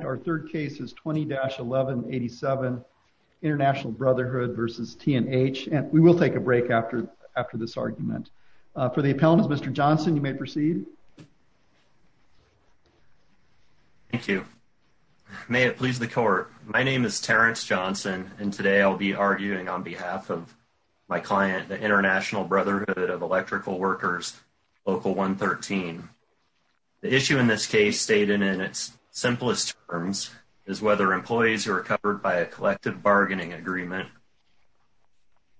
Our third case is 20-1187 International Brotherhood v. T & H, and we will take a break after this argument. For the appellants, Mr. Johnson, you may proceed. Thank you. May it please the court. My name is Terrence Johnson, and today I'll be arguing on behalf of my client, the International Brotherhood of Electrical Workers, Local 113. The issue in this case stated in its simplest terms is whether employees who are covered by a collective bargaining agreement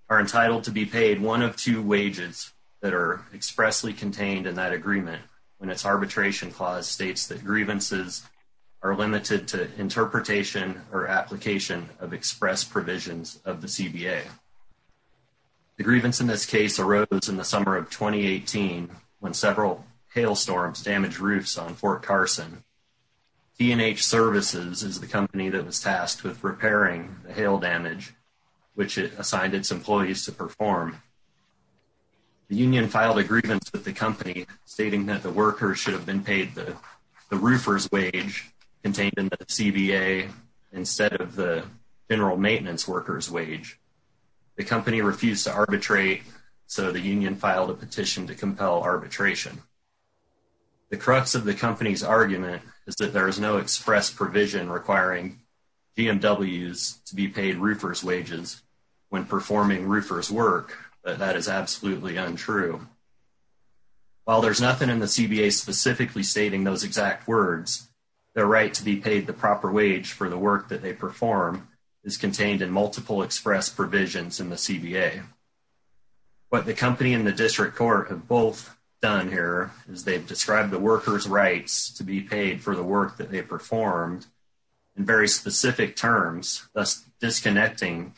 are entitled to be paid one of two wages that are expressly contained in that agreement when its arbitration clause states that grievances are limited to interpretation or application of express provisions of the CBA. The grievance in this case arose in the summer of T & H Services is the company that was tasked with repairing the hail damage which it assigned its employees to perform. The union filed a grievance with the company stating that the workers should have been paid the roofer's wage contained in the CBA instead of the general maintenance worker's wage. The company refused to arbitrate, so the union filed a that there is no express provision requiring BMWs to be paid roofer's wages when performing roofer's work, but that is absolutely untrue. While there's nothing in the CBA specifically stating those exact words, their right to be paid the proper wage for the work that they perform is contained in multiple express provisions in the CBA. What the company and the district court have both done here is they've described the workers' rights to be paid for the work that they performed in very specific terms, thus disconnecting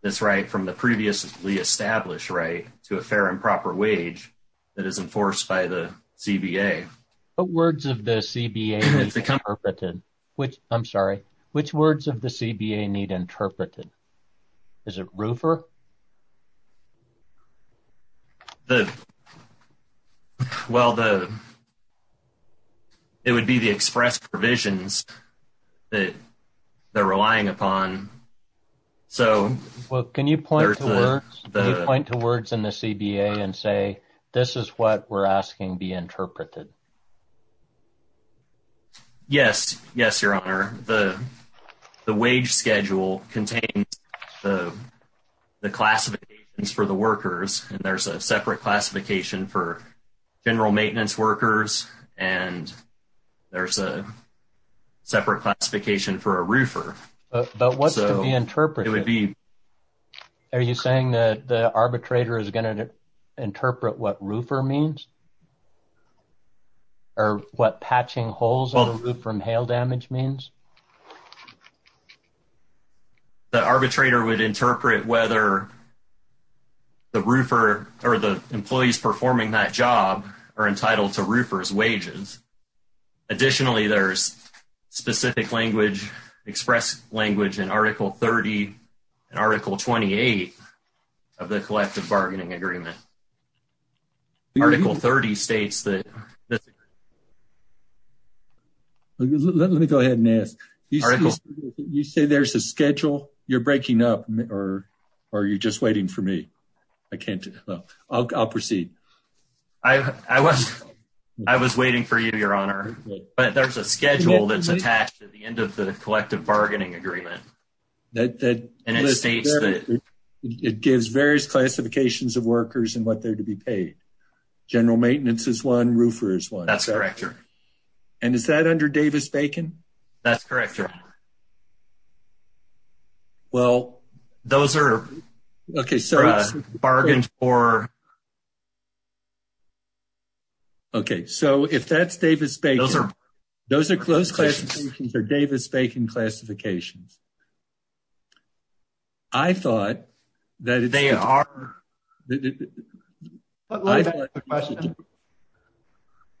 this right from the previously established right to a fair and proper wage that is enforced by the CBA. What words of the CBA need interpreted? I'm sorry, which words of the CBA need interpreted? Is it roofer? The, well, the, it would be the express provisions that they're relying upon, so. Well, can you point to words, can you point to words in the CBA and say, this is what we're asking be interpreted? Yes, yes, your honor. The, the wage schedule contains the, the classifications for the workers and there's a separate classification for general maintenance workers and there's a separate classification for a roofer. But, but what's to be interpreted? It would be. Are you saying that the arbitrator is going to interpret what roofer means? Or what patching holes on the roof from hail damage means? The arbitrator would interpret whether the roofer or the employees performing that job are entitled to roofer's wages. Additionally, there's specific language, express language in article 28 of the collective bargaining agreement. Article 30 states that. Let me go ahead and ask, you say there's a schedule you're breaking up or are you just waiting for me? I can't, I'll proceed. I was, I was waiting for you, your honor, but there's a schedule that's attached at the end of the collective bargaining agreement. That, that. And it states that. It gives various classifications of workers and what they're to be paid. General maintenance is one, roofer is one. That's correct, your honor. And is that under Davis-Bacon? That's correct, your honor. Well, those are. Okay, so. Bargained for. Okay, so if that's Davis-Bacon. Those are. Those are close classifications are Davis-Bacon classifications. I thought that. They are.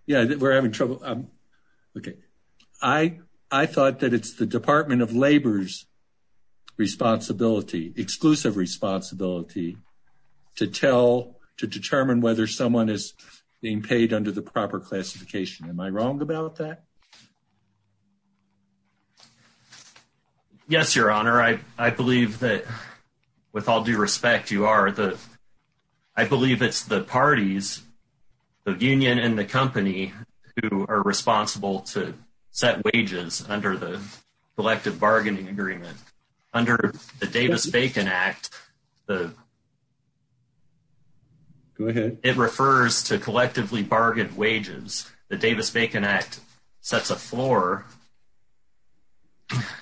Yeah, we're having trouble. Okay. I thought that it's the Department of Labor's responsibility, exclusive responsibility to tell, to determine whether someone is being paid under the proper classification. Am I wrong about that? Yes, your honor. I, I believe that with all due respect, you are the, I believe it's the parties of union and the company who are responsible to set wages under the collective bargaining agreement under the Davis-Bacon Act. The. Go ahead. It refers to collectively bargained wages. The Davis-Bacon Act sets a floor.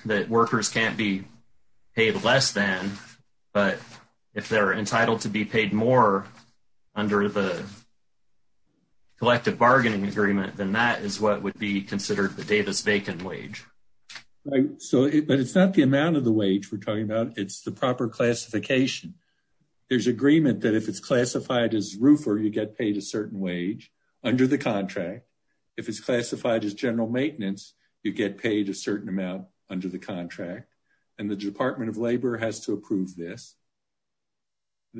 That workers can't be paid less than, but if they're entitled to be paid more under the collective bargaining agreement, then that is what would be considered the Davis-Bacon wage. So, but it's not the amount of the wage we're talking about. It's the proper classification. There's agreement that if it's classified as roofer, you get paid a certain wage under the contract. If it's classified as general maintenance, you get paid a certain amount under the contract and the Department of Labor has to approve this.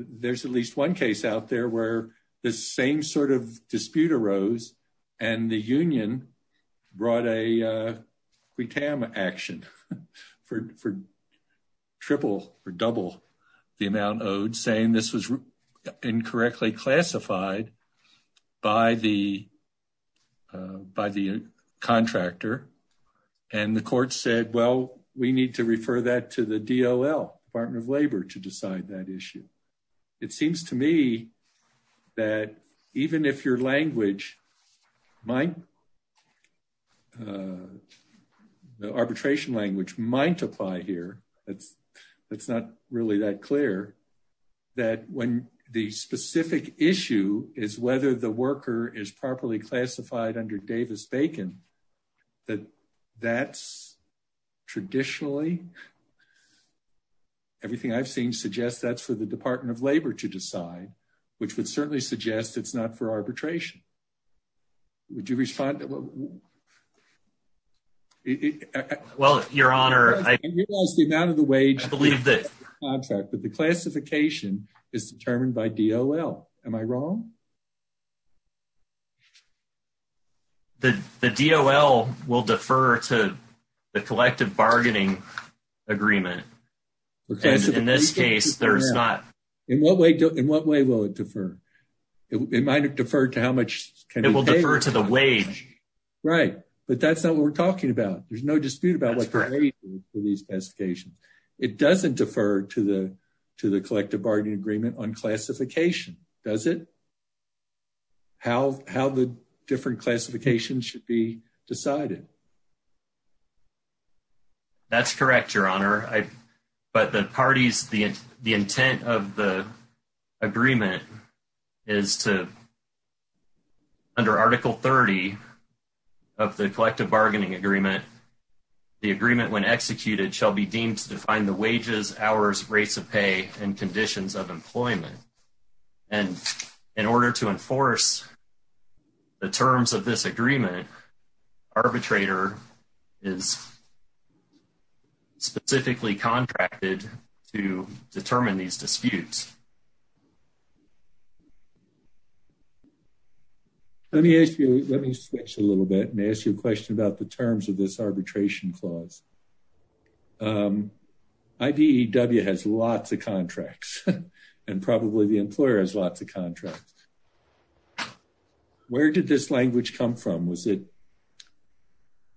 There's at least one case out there where the same sort of dispute arose and the union brought a action for, for triple or double the amount owed saying this was incorrectly classified by the, uh, by the contractor and the court said, well, we need to refer that to the DOL, Department of Labor to decide that issue. It seems to me that even if your language might, the arbitration language might apply here. That's, that's not really that clear that when the specific issue is whether the worker is properly classified under Davis-Bacon, that that's traditionally, everything I've seen suggests that's for the Department of Labor to decide, which would certainly suggest it's not for arbitration. Would you respond? Well, your honor, I believe that the contract, but the classification is determined by DOL. Am I wrong? The, the DOL will defer to the collective bargaining agreement. In this case, there's not. In what way, in what way will it defer? It might have deferred to how much can be paid. It will defer to the wage. Right. But that's not what we're talking about. There's no dispute about what the wage is for these specifications. It doesn't defer to the, to the collective bargaining agreement on classification. Does it? How, how the different classifications should be decided? That's correct, your honor. I, but the parties, the, the intent of the agreement is to, under article 30 of the collective bargaining agreement, the agreement when executed shall be deemed to define the wages, hours, rates of pay and conditions of employment. And in order to enforce the terms of this agreement, arbitrator is specifically contracted to determine these disputes. Let me ask you, let me switch a little bit and ask you a question about the terms of this arbitration clause. IBEW has lots of contracts and probably the employer has lots of contracts. Where did this language come from? Was it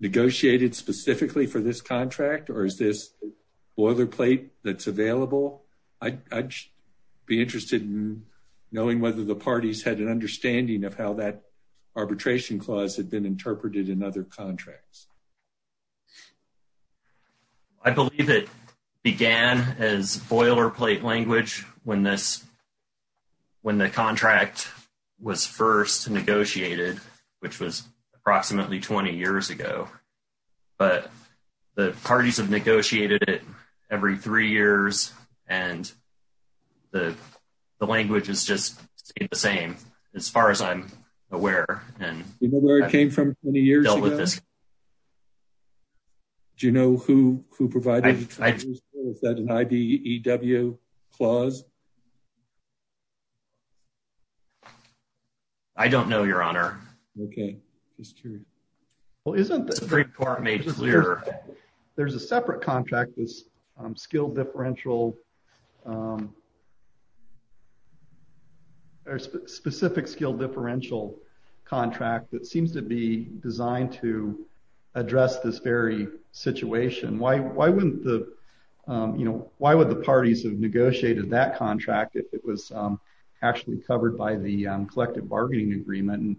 negotiated specifically for this contract or is this boilerplate that's available? I'd be interested in knowing whether the parties had an understanding of how that arbitration clause had been interpreted in other contracts. I believe it began as boilerplate language when this, when the contract was first negotiated, which was approximately 20 years ago. But the parties have negotiated it every three years and the language is just the same as far as I'm aware. And you know where it came from many years ago with this. Do you know who provided that IBEW clause? I don't know, your honor. Okay, just curious. Well, isn't the Supreme Court made clear there's a separate contract with skilled differential, a specific skilled differential contract that seems to be designed to address this very situation. Why would the parties have negotiated that contract if it was actually covered by the collective bargaining agreement? And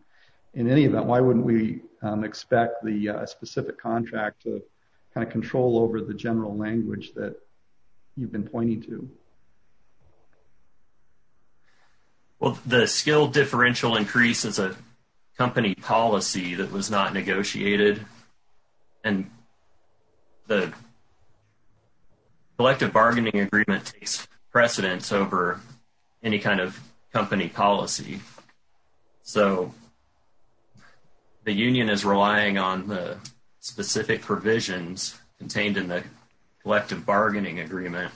in any event, why wouldn't we expect the specific contract to kind of control over the general language that you've been pointing to? Well, the skilled differential increases a company policy that was not negotiated and the collective bargaining agreement takes precedence over any kind of company policy. So, the union is relying on the specific provisions contained in the collective bargaining agreement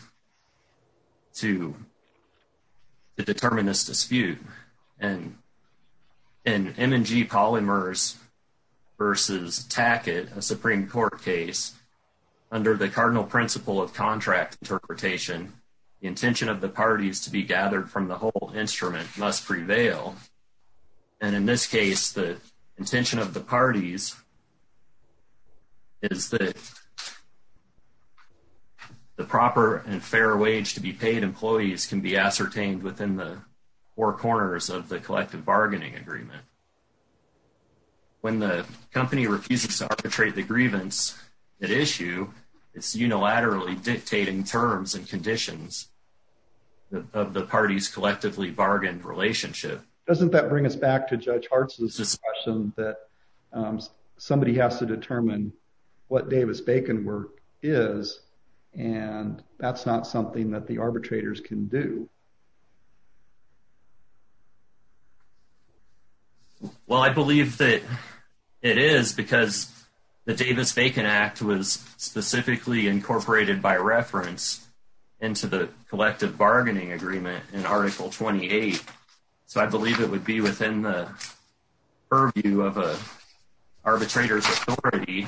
to determine this dispute. And in M&G Polymers versus Tackett, a Supreme Court case, under the cardinal principle of contract interpretation, the intention of the parties to be gathered from the whole instrument must prevail. And in this case, the intention of the parties is that the proper and fair wage to be paid employees can be ascertained within the four corners of the collective bargaining agreement. When the company refuses to arbitrate the grievance at issue, it's unilaterally dictating terms and conditions of the parties' collectively bargained relationship. Doesn't that bring us back to Judge Hartz's discussion that somebody has to determine what Davis-Bacon work is and that's not something that the arbitrators can do? Well, I believe that it is because the Davis-Bacon Act was specifically incorporated by reference into the collective bargaining agreement in Article 28. So, I believe it would be within the purview of an arbitrator's authority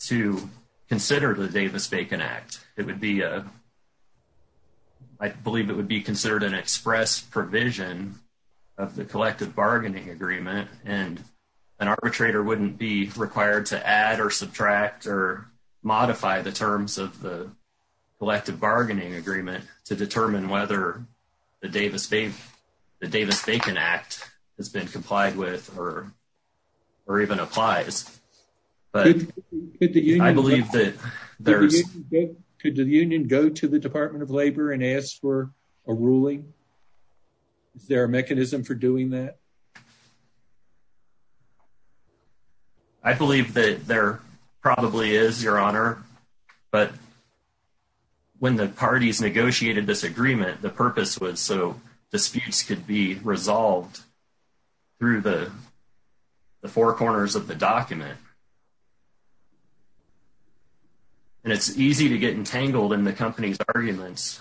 to consider the Davis-Bacon Act. It would be a I believe it would be considered an express provision of the collective bargaining agreement and an arbitrator wouldn't be required to add or subtract or modify the terms of the collective bargaining agreement to determine whether the Davis-Bacon Act has been complied with or even applies. But I believe that there's... Is there a mechanism for doing that? I believe that there probably is, Your Honor, but when the parties negotiated this agreement, the purpose was so disputes could be resolved through the four corners of the document. And it's easy to get entangled in the company's arguments,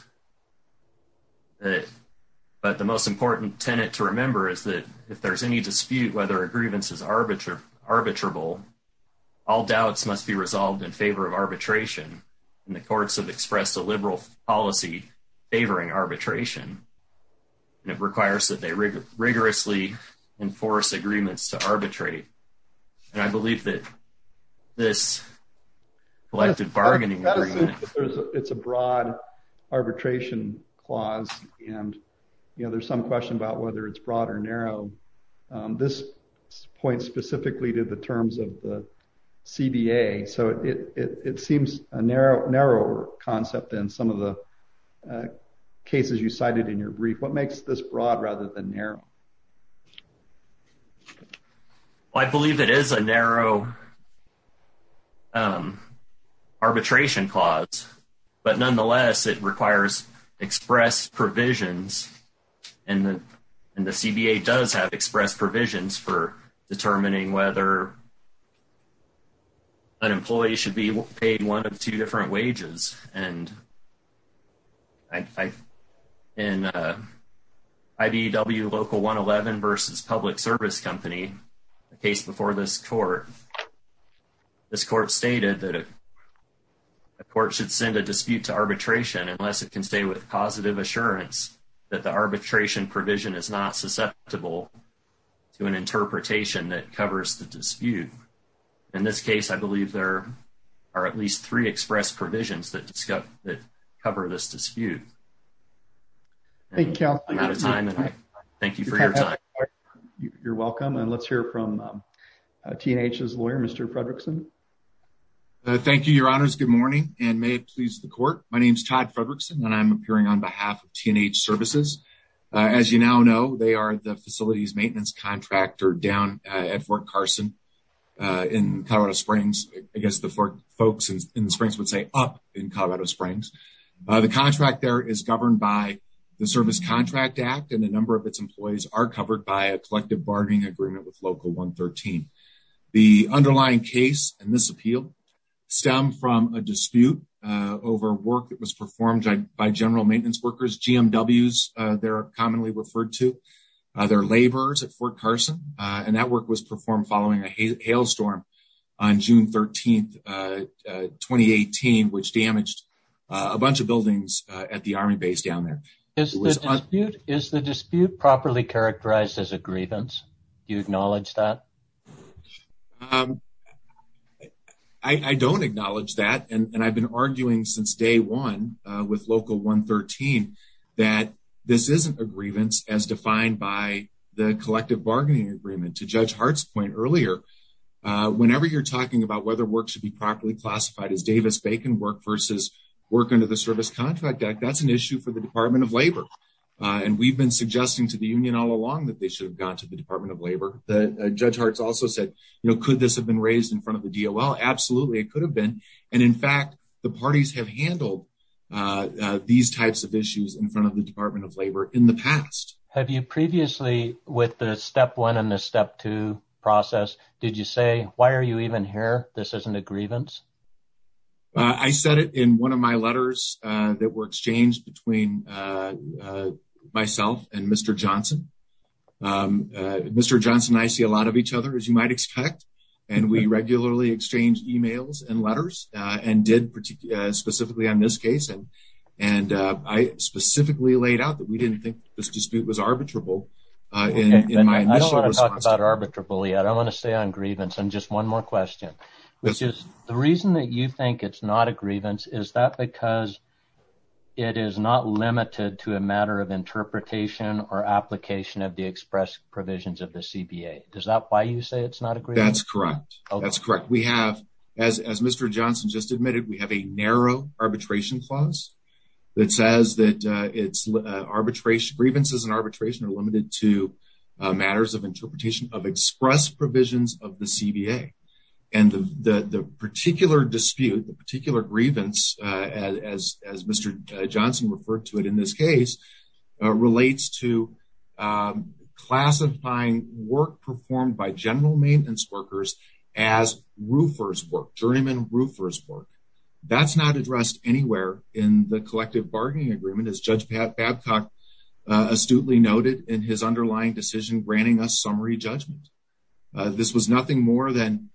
but the most important tenet to remember is that if there's any dispute whether a grievance is arbitrable, all doubts must be resolved in favor of arbitration. And the courts have expressed a liberal policy favoring arbitration and it requires that they rigorously enforce agreements to arbitrate. And I believe that this collective bargaining agreement... It's a broad arbitration clause and, you know, there's some question about whether it's broad or narrow. This points specifically to the terms of the CBA, so it seems a narrower concept than some of the cases you cited in your brief. What makes this broad rather than narrow? Well, I believe it is a narrow arbitration clause, but nonetheless it requires express provisions and the CBA does have express provisions for determining whether an employee should be able to pay one of two different wages. And in IBEW Local 111 versus Public Service Company, a case before this court, this court stated that a court should send a dispute to arbitration unless it can stay with positive assurance that the arbitration provision is not susceptible to an interpretation that cover this dispute. Thank you for your time. You're welcome. And let's hear from T&H's lawyer, Mr. Fredrickson. Thank you, your honors. Good morning and may it please the court. My name is Todd Fredrickson and I'm appearing on behalf of T&H Services. As you now know, they are the facilities maintenance contractor down at Fort Carson in Colorado Springs. I guess folks in the Springs would say up in Colorado Springs. The contract there is governed by the Service Contract Act and a number of its employees are covered by a collective bargaining agreement with Local 113. The underlying case and this appeal stem from a dispute over work that was performed by general maintenance workers, GMWs, they're commonly referred to. They're laborers at Fort Carson and that work was performed following a hailstorm on June 13, 2018, which damaged a bunch of buildings at the Army base down there. Is the dispute properly characterized as a grievance? Do you acknowledge that? I don't acknowledge that and I've been to Judge Hart's point earlier. Whenever you're talking about whether work should be properly classified as Davis-Bacon work versus work under the Service Contract Act, that's an issue for the Department of Labor. And we've been suggesting to the union all along that they should have gone to the Department of Labor. Judge Hart's also said, you know, could this have been raised in front of the DOL? Absolutely, it could have been. And in fact, the parties have handled these types of step one and the step two process. Did you say, why are you even here? This isn't a grievance. I said it in one of my letters that were exchanged between myself and Mr. Johnson. Mr. Johnson and I see a lot of each other, as you might expect, and we regularly exchange emails and letters and did specifically on this case. And I specifically laid out that we didn't think this dispute was arbitrable. I don't want to talk about arbitrable yet. I want to stay on grievance. And just one more question, which is the reason that you think it's not a grievance, is that because it is not limited to a matter of interpretation or application of the express provisions of the CBA? Is that why you say it's not a grievance? That's correct. That's correct. We have, as Mr. Johnson just admitted, we have a narrow arbitration clause that says that it's grievances and arbitration are limited to matters of interpretation of express provisions of the CBA. And the particular dispute, the particular grievance, as Mr. Johnson referred to it in this case, relates to classifying work performed by general maintenance workers as roofer's work, journeyman roofer's work. That's not addressed anywhere in the collective bargaining agreement as Judge Babcock astutely noted in his underlying decision, granting us summary judgment. This was nothing more than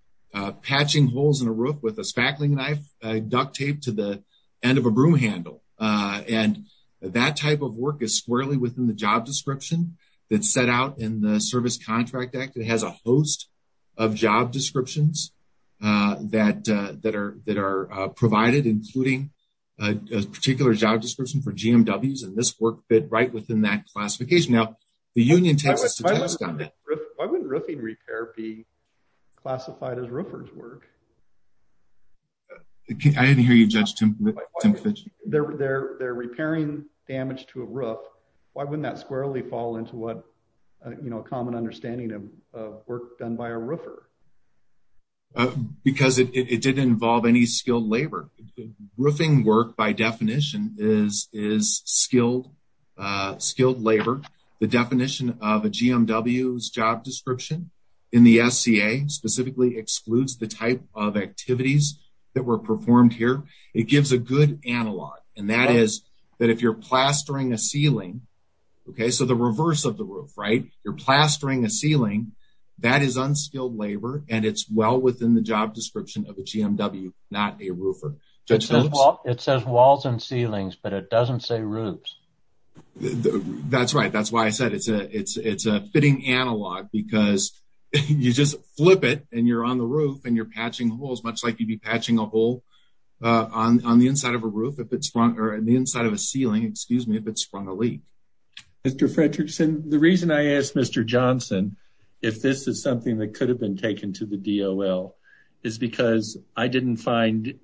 patching holes in a roof with a spackling knife, duct tape to the end of a broom handle. And that type of work is squarely within the job description that's set out in the Service Contract Act. It has a host of job descriptions that are provided, including a particular job description for GMWs. And this work fit right within that classification. Now, the union tends to test on that. Why wouldn't roofing repair be classified as roofer's work? I didn't hear you, Judge Timkovich. They're repairing damage to a roof. Why wouldn't that squarely fall into what a common understanding of work done by a roofer? Because it didn't involve any skilled labor. Roofing work by definition is skilled labor. The definition of a GMW's job description in the SCA specifically excludes the type of activities that were performed here. It gives a good analog, and that is that if you're plastering a ceiling, okay, so the reverse of the roof, right? You're plastering a ceiling, that is unskilled labor, and it's well within the job description of a GMW, not a roofer. It says walls and ceilings, but it doesn't say roofs. That's right. That's why I said it's a fitting analog, because you just flip it, and you're on the roof, and you're patching holes, much like you'd be patching a hole on the inside of a ceiling if it sprung a leak. Mr. Fredrickson, the reason I asked Mr. Bacon to the DOL is because I didn't find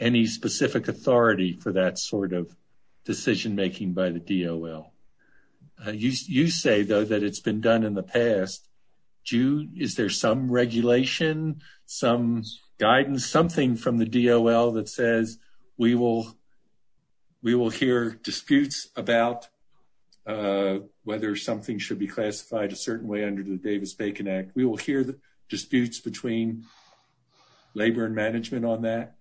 any specific authority for that sort of decision making by the DOL. You say, though, that it's been done in the past. Is there some regulation, some guidance, something from the DOL that says we will hear disputes about whether something should be classified a certain way under the Davis-Bacon Act? We will hear disputes between labor and management on that?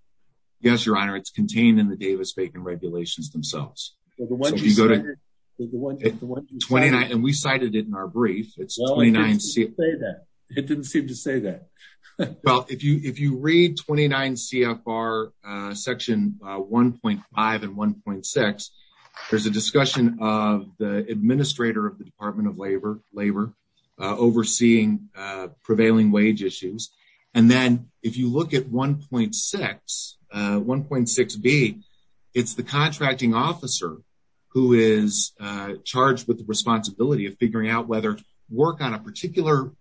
Yes, your honor, it's contained in the Davis-Bacon regulations themselves. And we cited it in our brief. It didn't seem to say that. Well, if you read 29 CFR section 1.5 and 1.6, there's a discussion of the administrator of the Department of Labor overseeing prevailing wage issues. And then if you look at 1.6B, it's the contracting officer who is charged with the responsibility of figuring out whether work on a particular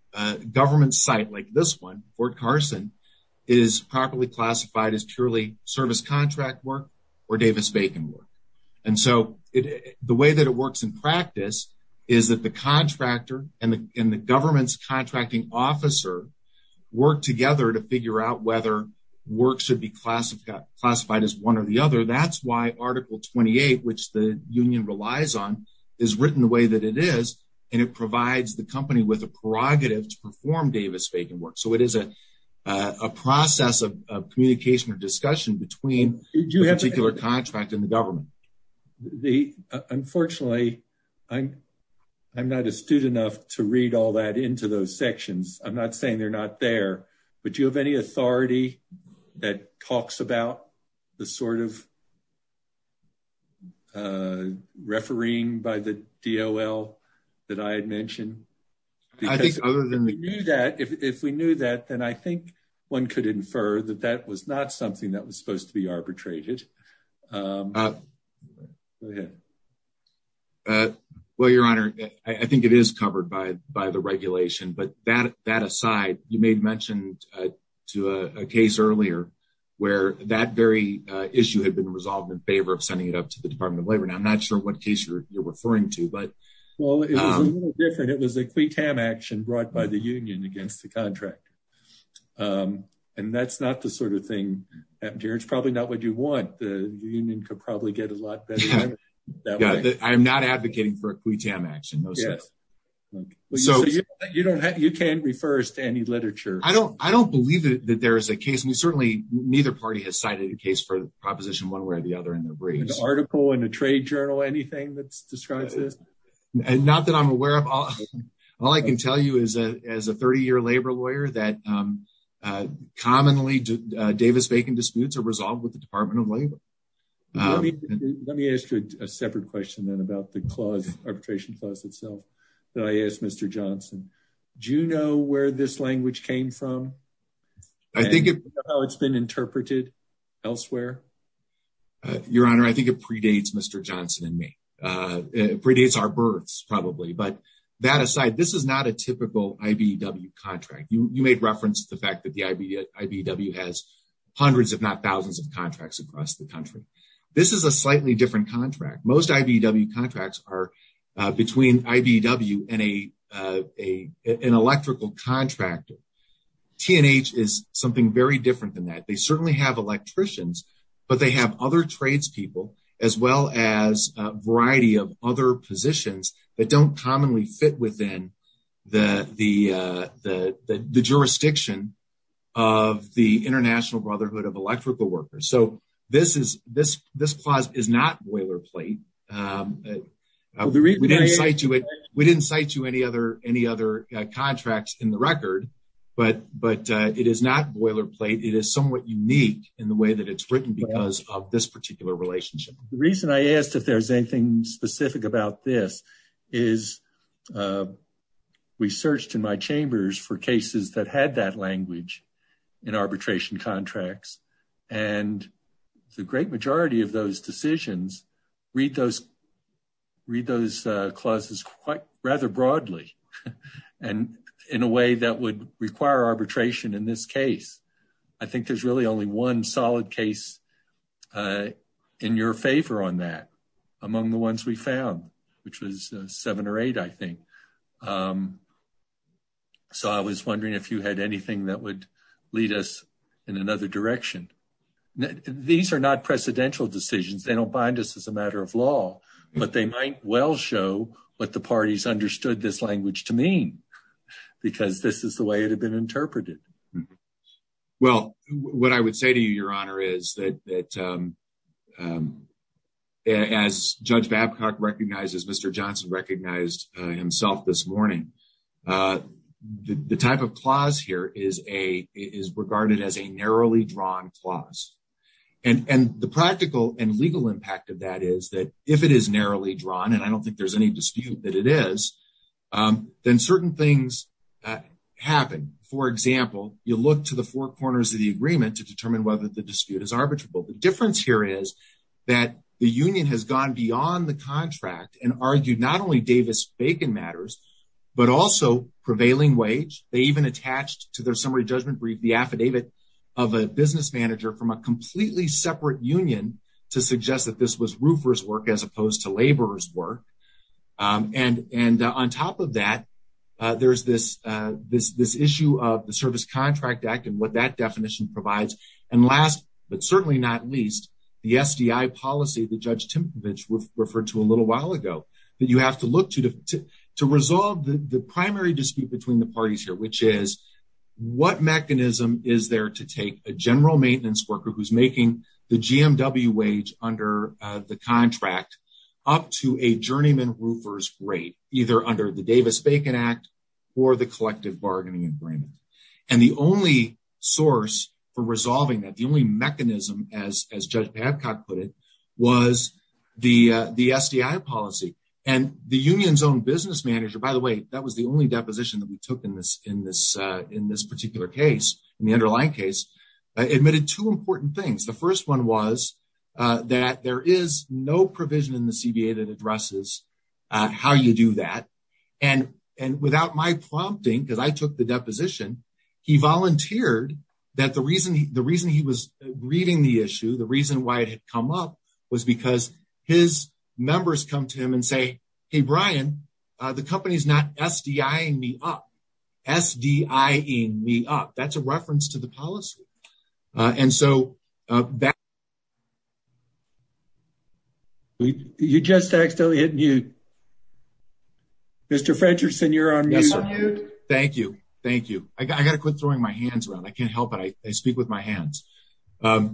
government site like this one, Fort Carson, is properly classified as purely service contract work or Davis-Bacon work. And so the way that it works in practice is that the contractor and the government's contracting officer work together to figure out whether work should be classified as one or the other. That's why Article 28, which the union relies on, is written the way that it is. And it provides the company with a prerogative to perform Davis-Bacon work. So it is a process of discussion between the particular contract and the government. Unfortunately, I'm not astute enough to read all that into those sections. I'm not saying they're not there, but do you have any authority that talks about the sort of refereeing by the DOL that I had mentioned? If we knew that, then I think one could infer that that was not something that was supposed to be arbitrated. Go ahead. Well, Your Honor, I think it is covered by the regulation. But that aside, you made mention to a case earlier where that very issue had been resolved in favor of sending it up to the Department of Labor. Now, I'm not sure what case you're referring to. Well, it was a little thing. It's probably not what you want. The union could probably get a lot better. I'm not advocating for a quitam action. You can't refer us to any literature. I don't believe that there is a case. Certainly, neither party has cited a case for the proposition one way or the other in their briefs. An article in a trade journal, anything that describes this? Not that I'm aware of. All I can tell you is as a 30-year labor lawyer that commonly Davis-Bacon disputes are resolved with the Department of Labor. Let me ask you a separate question then about the arbitration clause itself that I asked Mr. Johnson. Do you know where this language came from? Do you know how it's been interpreted elsewhere? Your Honor, I think it predates Mr. Johnson and me. It predates our births, but that aside, this is not a typical IBEW contract. You made reference to the fact that the IBEW has hundreds, if not thousands, of contracts across the country. This is a slightly different contract. Most IBEW contracts are between IBEW and an electrical contractor. T&H is something very different than that. They certainly have electricians, but they have other tradespeople as well as a variety of other positions that don't commonly fit within the jurisdiction of the International Brotherhood of Electrical Workers. This clause is not boilerplate. We didn't cite you any other contracts in the record, but it is not because of this particular relationship. The reason I asked if there's anything specific about this is we searched in my chambers for cases that had that language in arbitration contracts, and the great majority of those decisions read those clauses rather broadly and in a way that required arbitration in this case. I think there's really only one solid case in your favor on that among the ones we found, which was seven or eight, I think. I was wondering if you had anything that would lead us in another direction. These are not precedential decisions. They don't bind us as a matter of law, but they might well show what the parties understood this language to mean because this is the way it had been interpreted. Well, what I would say to you, Your Honor, is that as Judge Babcock recognizes, Mr. Johnson recognized himself this morning, the type of clause here is regarded as a narrowly drawn clause. The practical and legal impact of that is that if it is narrowly drawn, and I don't think there's any dispute that it is, then certain things happen. For example, you look to the four corners of the agreement to determine whether the dispute is arbitrable. The difference here is that the union has gone beyond the contract and argued not only Davis-Bacon matters, but also prevailing wage. They even attached to their summary judgment brief the affidavit of a business manager from a completely separate union to suggest that this was roofer's work as opposed to laborer's work. And on top of that, there's this issue of the Service Contract Act and what that definition provides. And last, but certainly not least, the SDI policy that Judge Timkovich referred to a little while ago that you have to look to to resolve the primary dispute between the parties here, which is what mechanism is there to take a general maintenance worker who's making the GMW under the contract up to a journeyman roofer's rate, either under the Davis-Bacon Act or the collective bargaining agreement. And the only source for resolving that, the only mechanism, as Judge Babcock put it, was the SDI policy. And the union's own business manager, by the way, that was the only deposition that we took in this particular case, in the underlying case, admitted two important things. The first one was that there is no provision in the CBA that addresses how you do that. And without my prompting, because I took the deposition, he volunteered that the reason he was reading the issue, the reason why it had come up, was because his members come to him and say, hey, Brian, the company's not SDIing me up. S-D-I-ing me up. That's a reference to the policy. And so that... You just accidentally hit mute. Mr. Frencherson, you're on mute. Thank you. Thank you. I got to quit throwing my hands around. I can't help it. I speak with my hands. But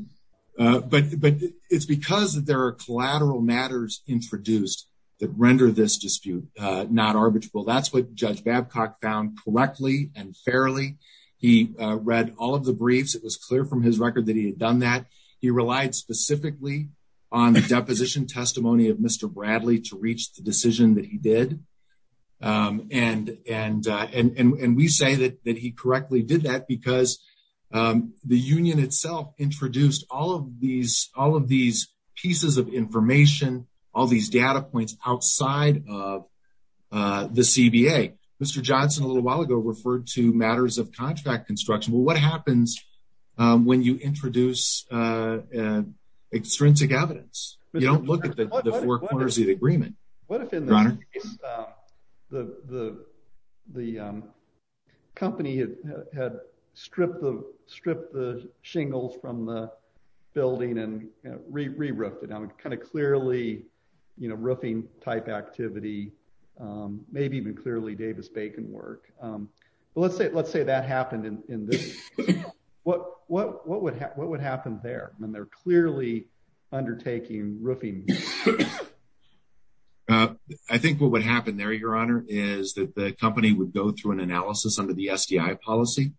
it's because there are collateral matters introduced that render this dispute not arbitrable. That's what Judge Babcock found correctly and fairly. He read all of the briefs. It was clear from his record that he had done that. He relied specifically on the deposition testimony of Mr. Bradley to reach the decision that he did. And we say that he correctly did that because the union itself introduced all of these pieces of information, all these data outside of the CBA. Mr. Johnson, a little while ago, referred to matters of contract construction. What happens when you introduce extrinsic evidence? You don't look at the four corners of the agreement. What if in the case the company had stripped the shingles from the type activity, maybe even clearly Davis-Bacon work? Let's say that happened in this. What would happen there when they're clearly undertaking roofing? I think what would happen there, Your Honor, is that the company would go through an analysis under the SDI policy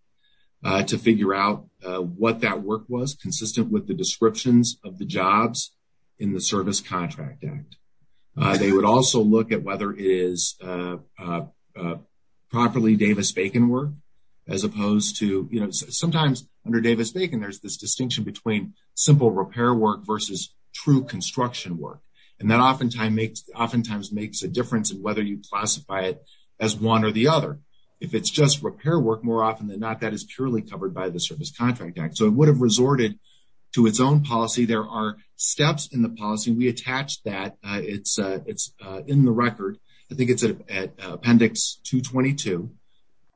to figure out what that work was consistent with the descriptions of the jobs in the Service Contract Act. They would also look at whether it is properly Davis-Bacon work as opposed to, you know, sometimes under Davis-Bacon, there's this distinction between simple repair work versus true construction work. And that oftentimes makes a difference in whether you classify it as one or the other. If it's just repair work, more often than not, that is purely covered by the Service Contract Act. So it would have resorted to its own policy. There are steps in the policy. We attach that. It's in the record. I think it's at Appendix 222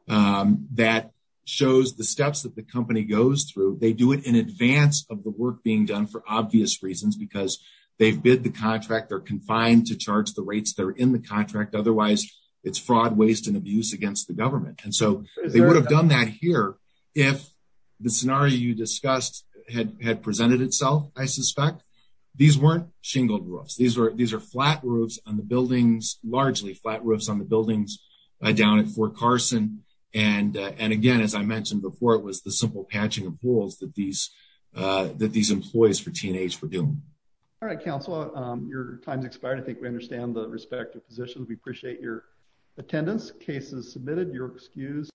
that shows the steps that the company goes through. They do it in advance of the work being done for obvious reasons because they've bid the contract. They're confined to charge the rates that are in the contract. Otherwise, it's fraud, waste, and abuse against the government. And so they would have done that here if the scenario you discussed had presented itself, I suspect. These weren't shingled roofs. These are flat roofs on the buildings, largely flat roofs on the buildings down at Fort Carson. And again, as I mentioned before, it was the simple patching of walls that these employees for T&H were doing. All right, Counselor, your time's expired. I think we understand the respective positions. We appreciate your attendance. Case is submitted. You're excused.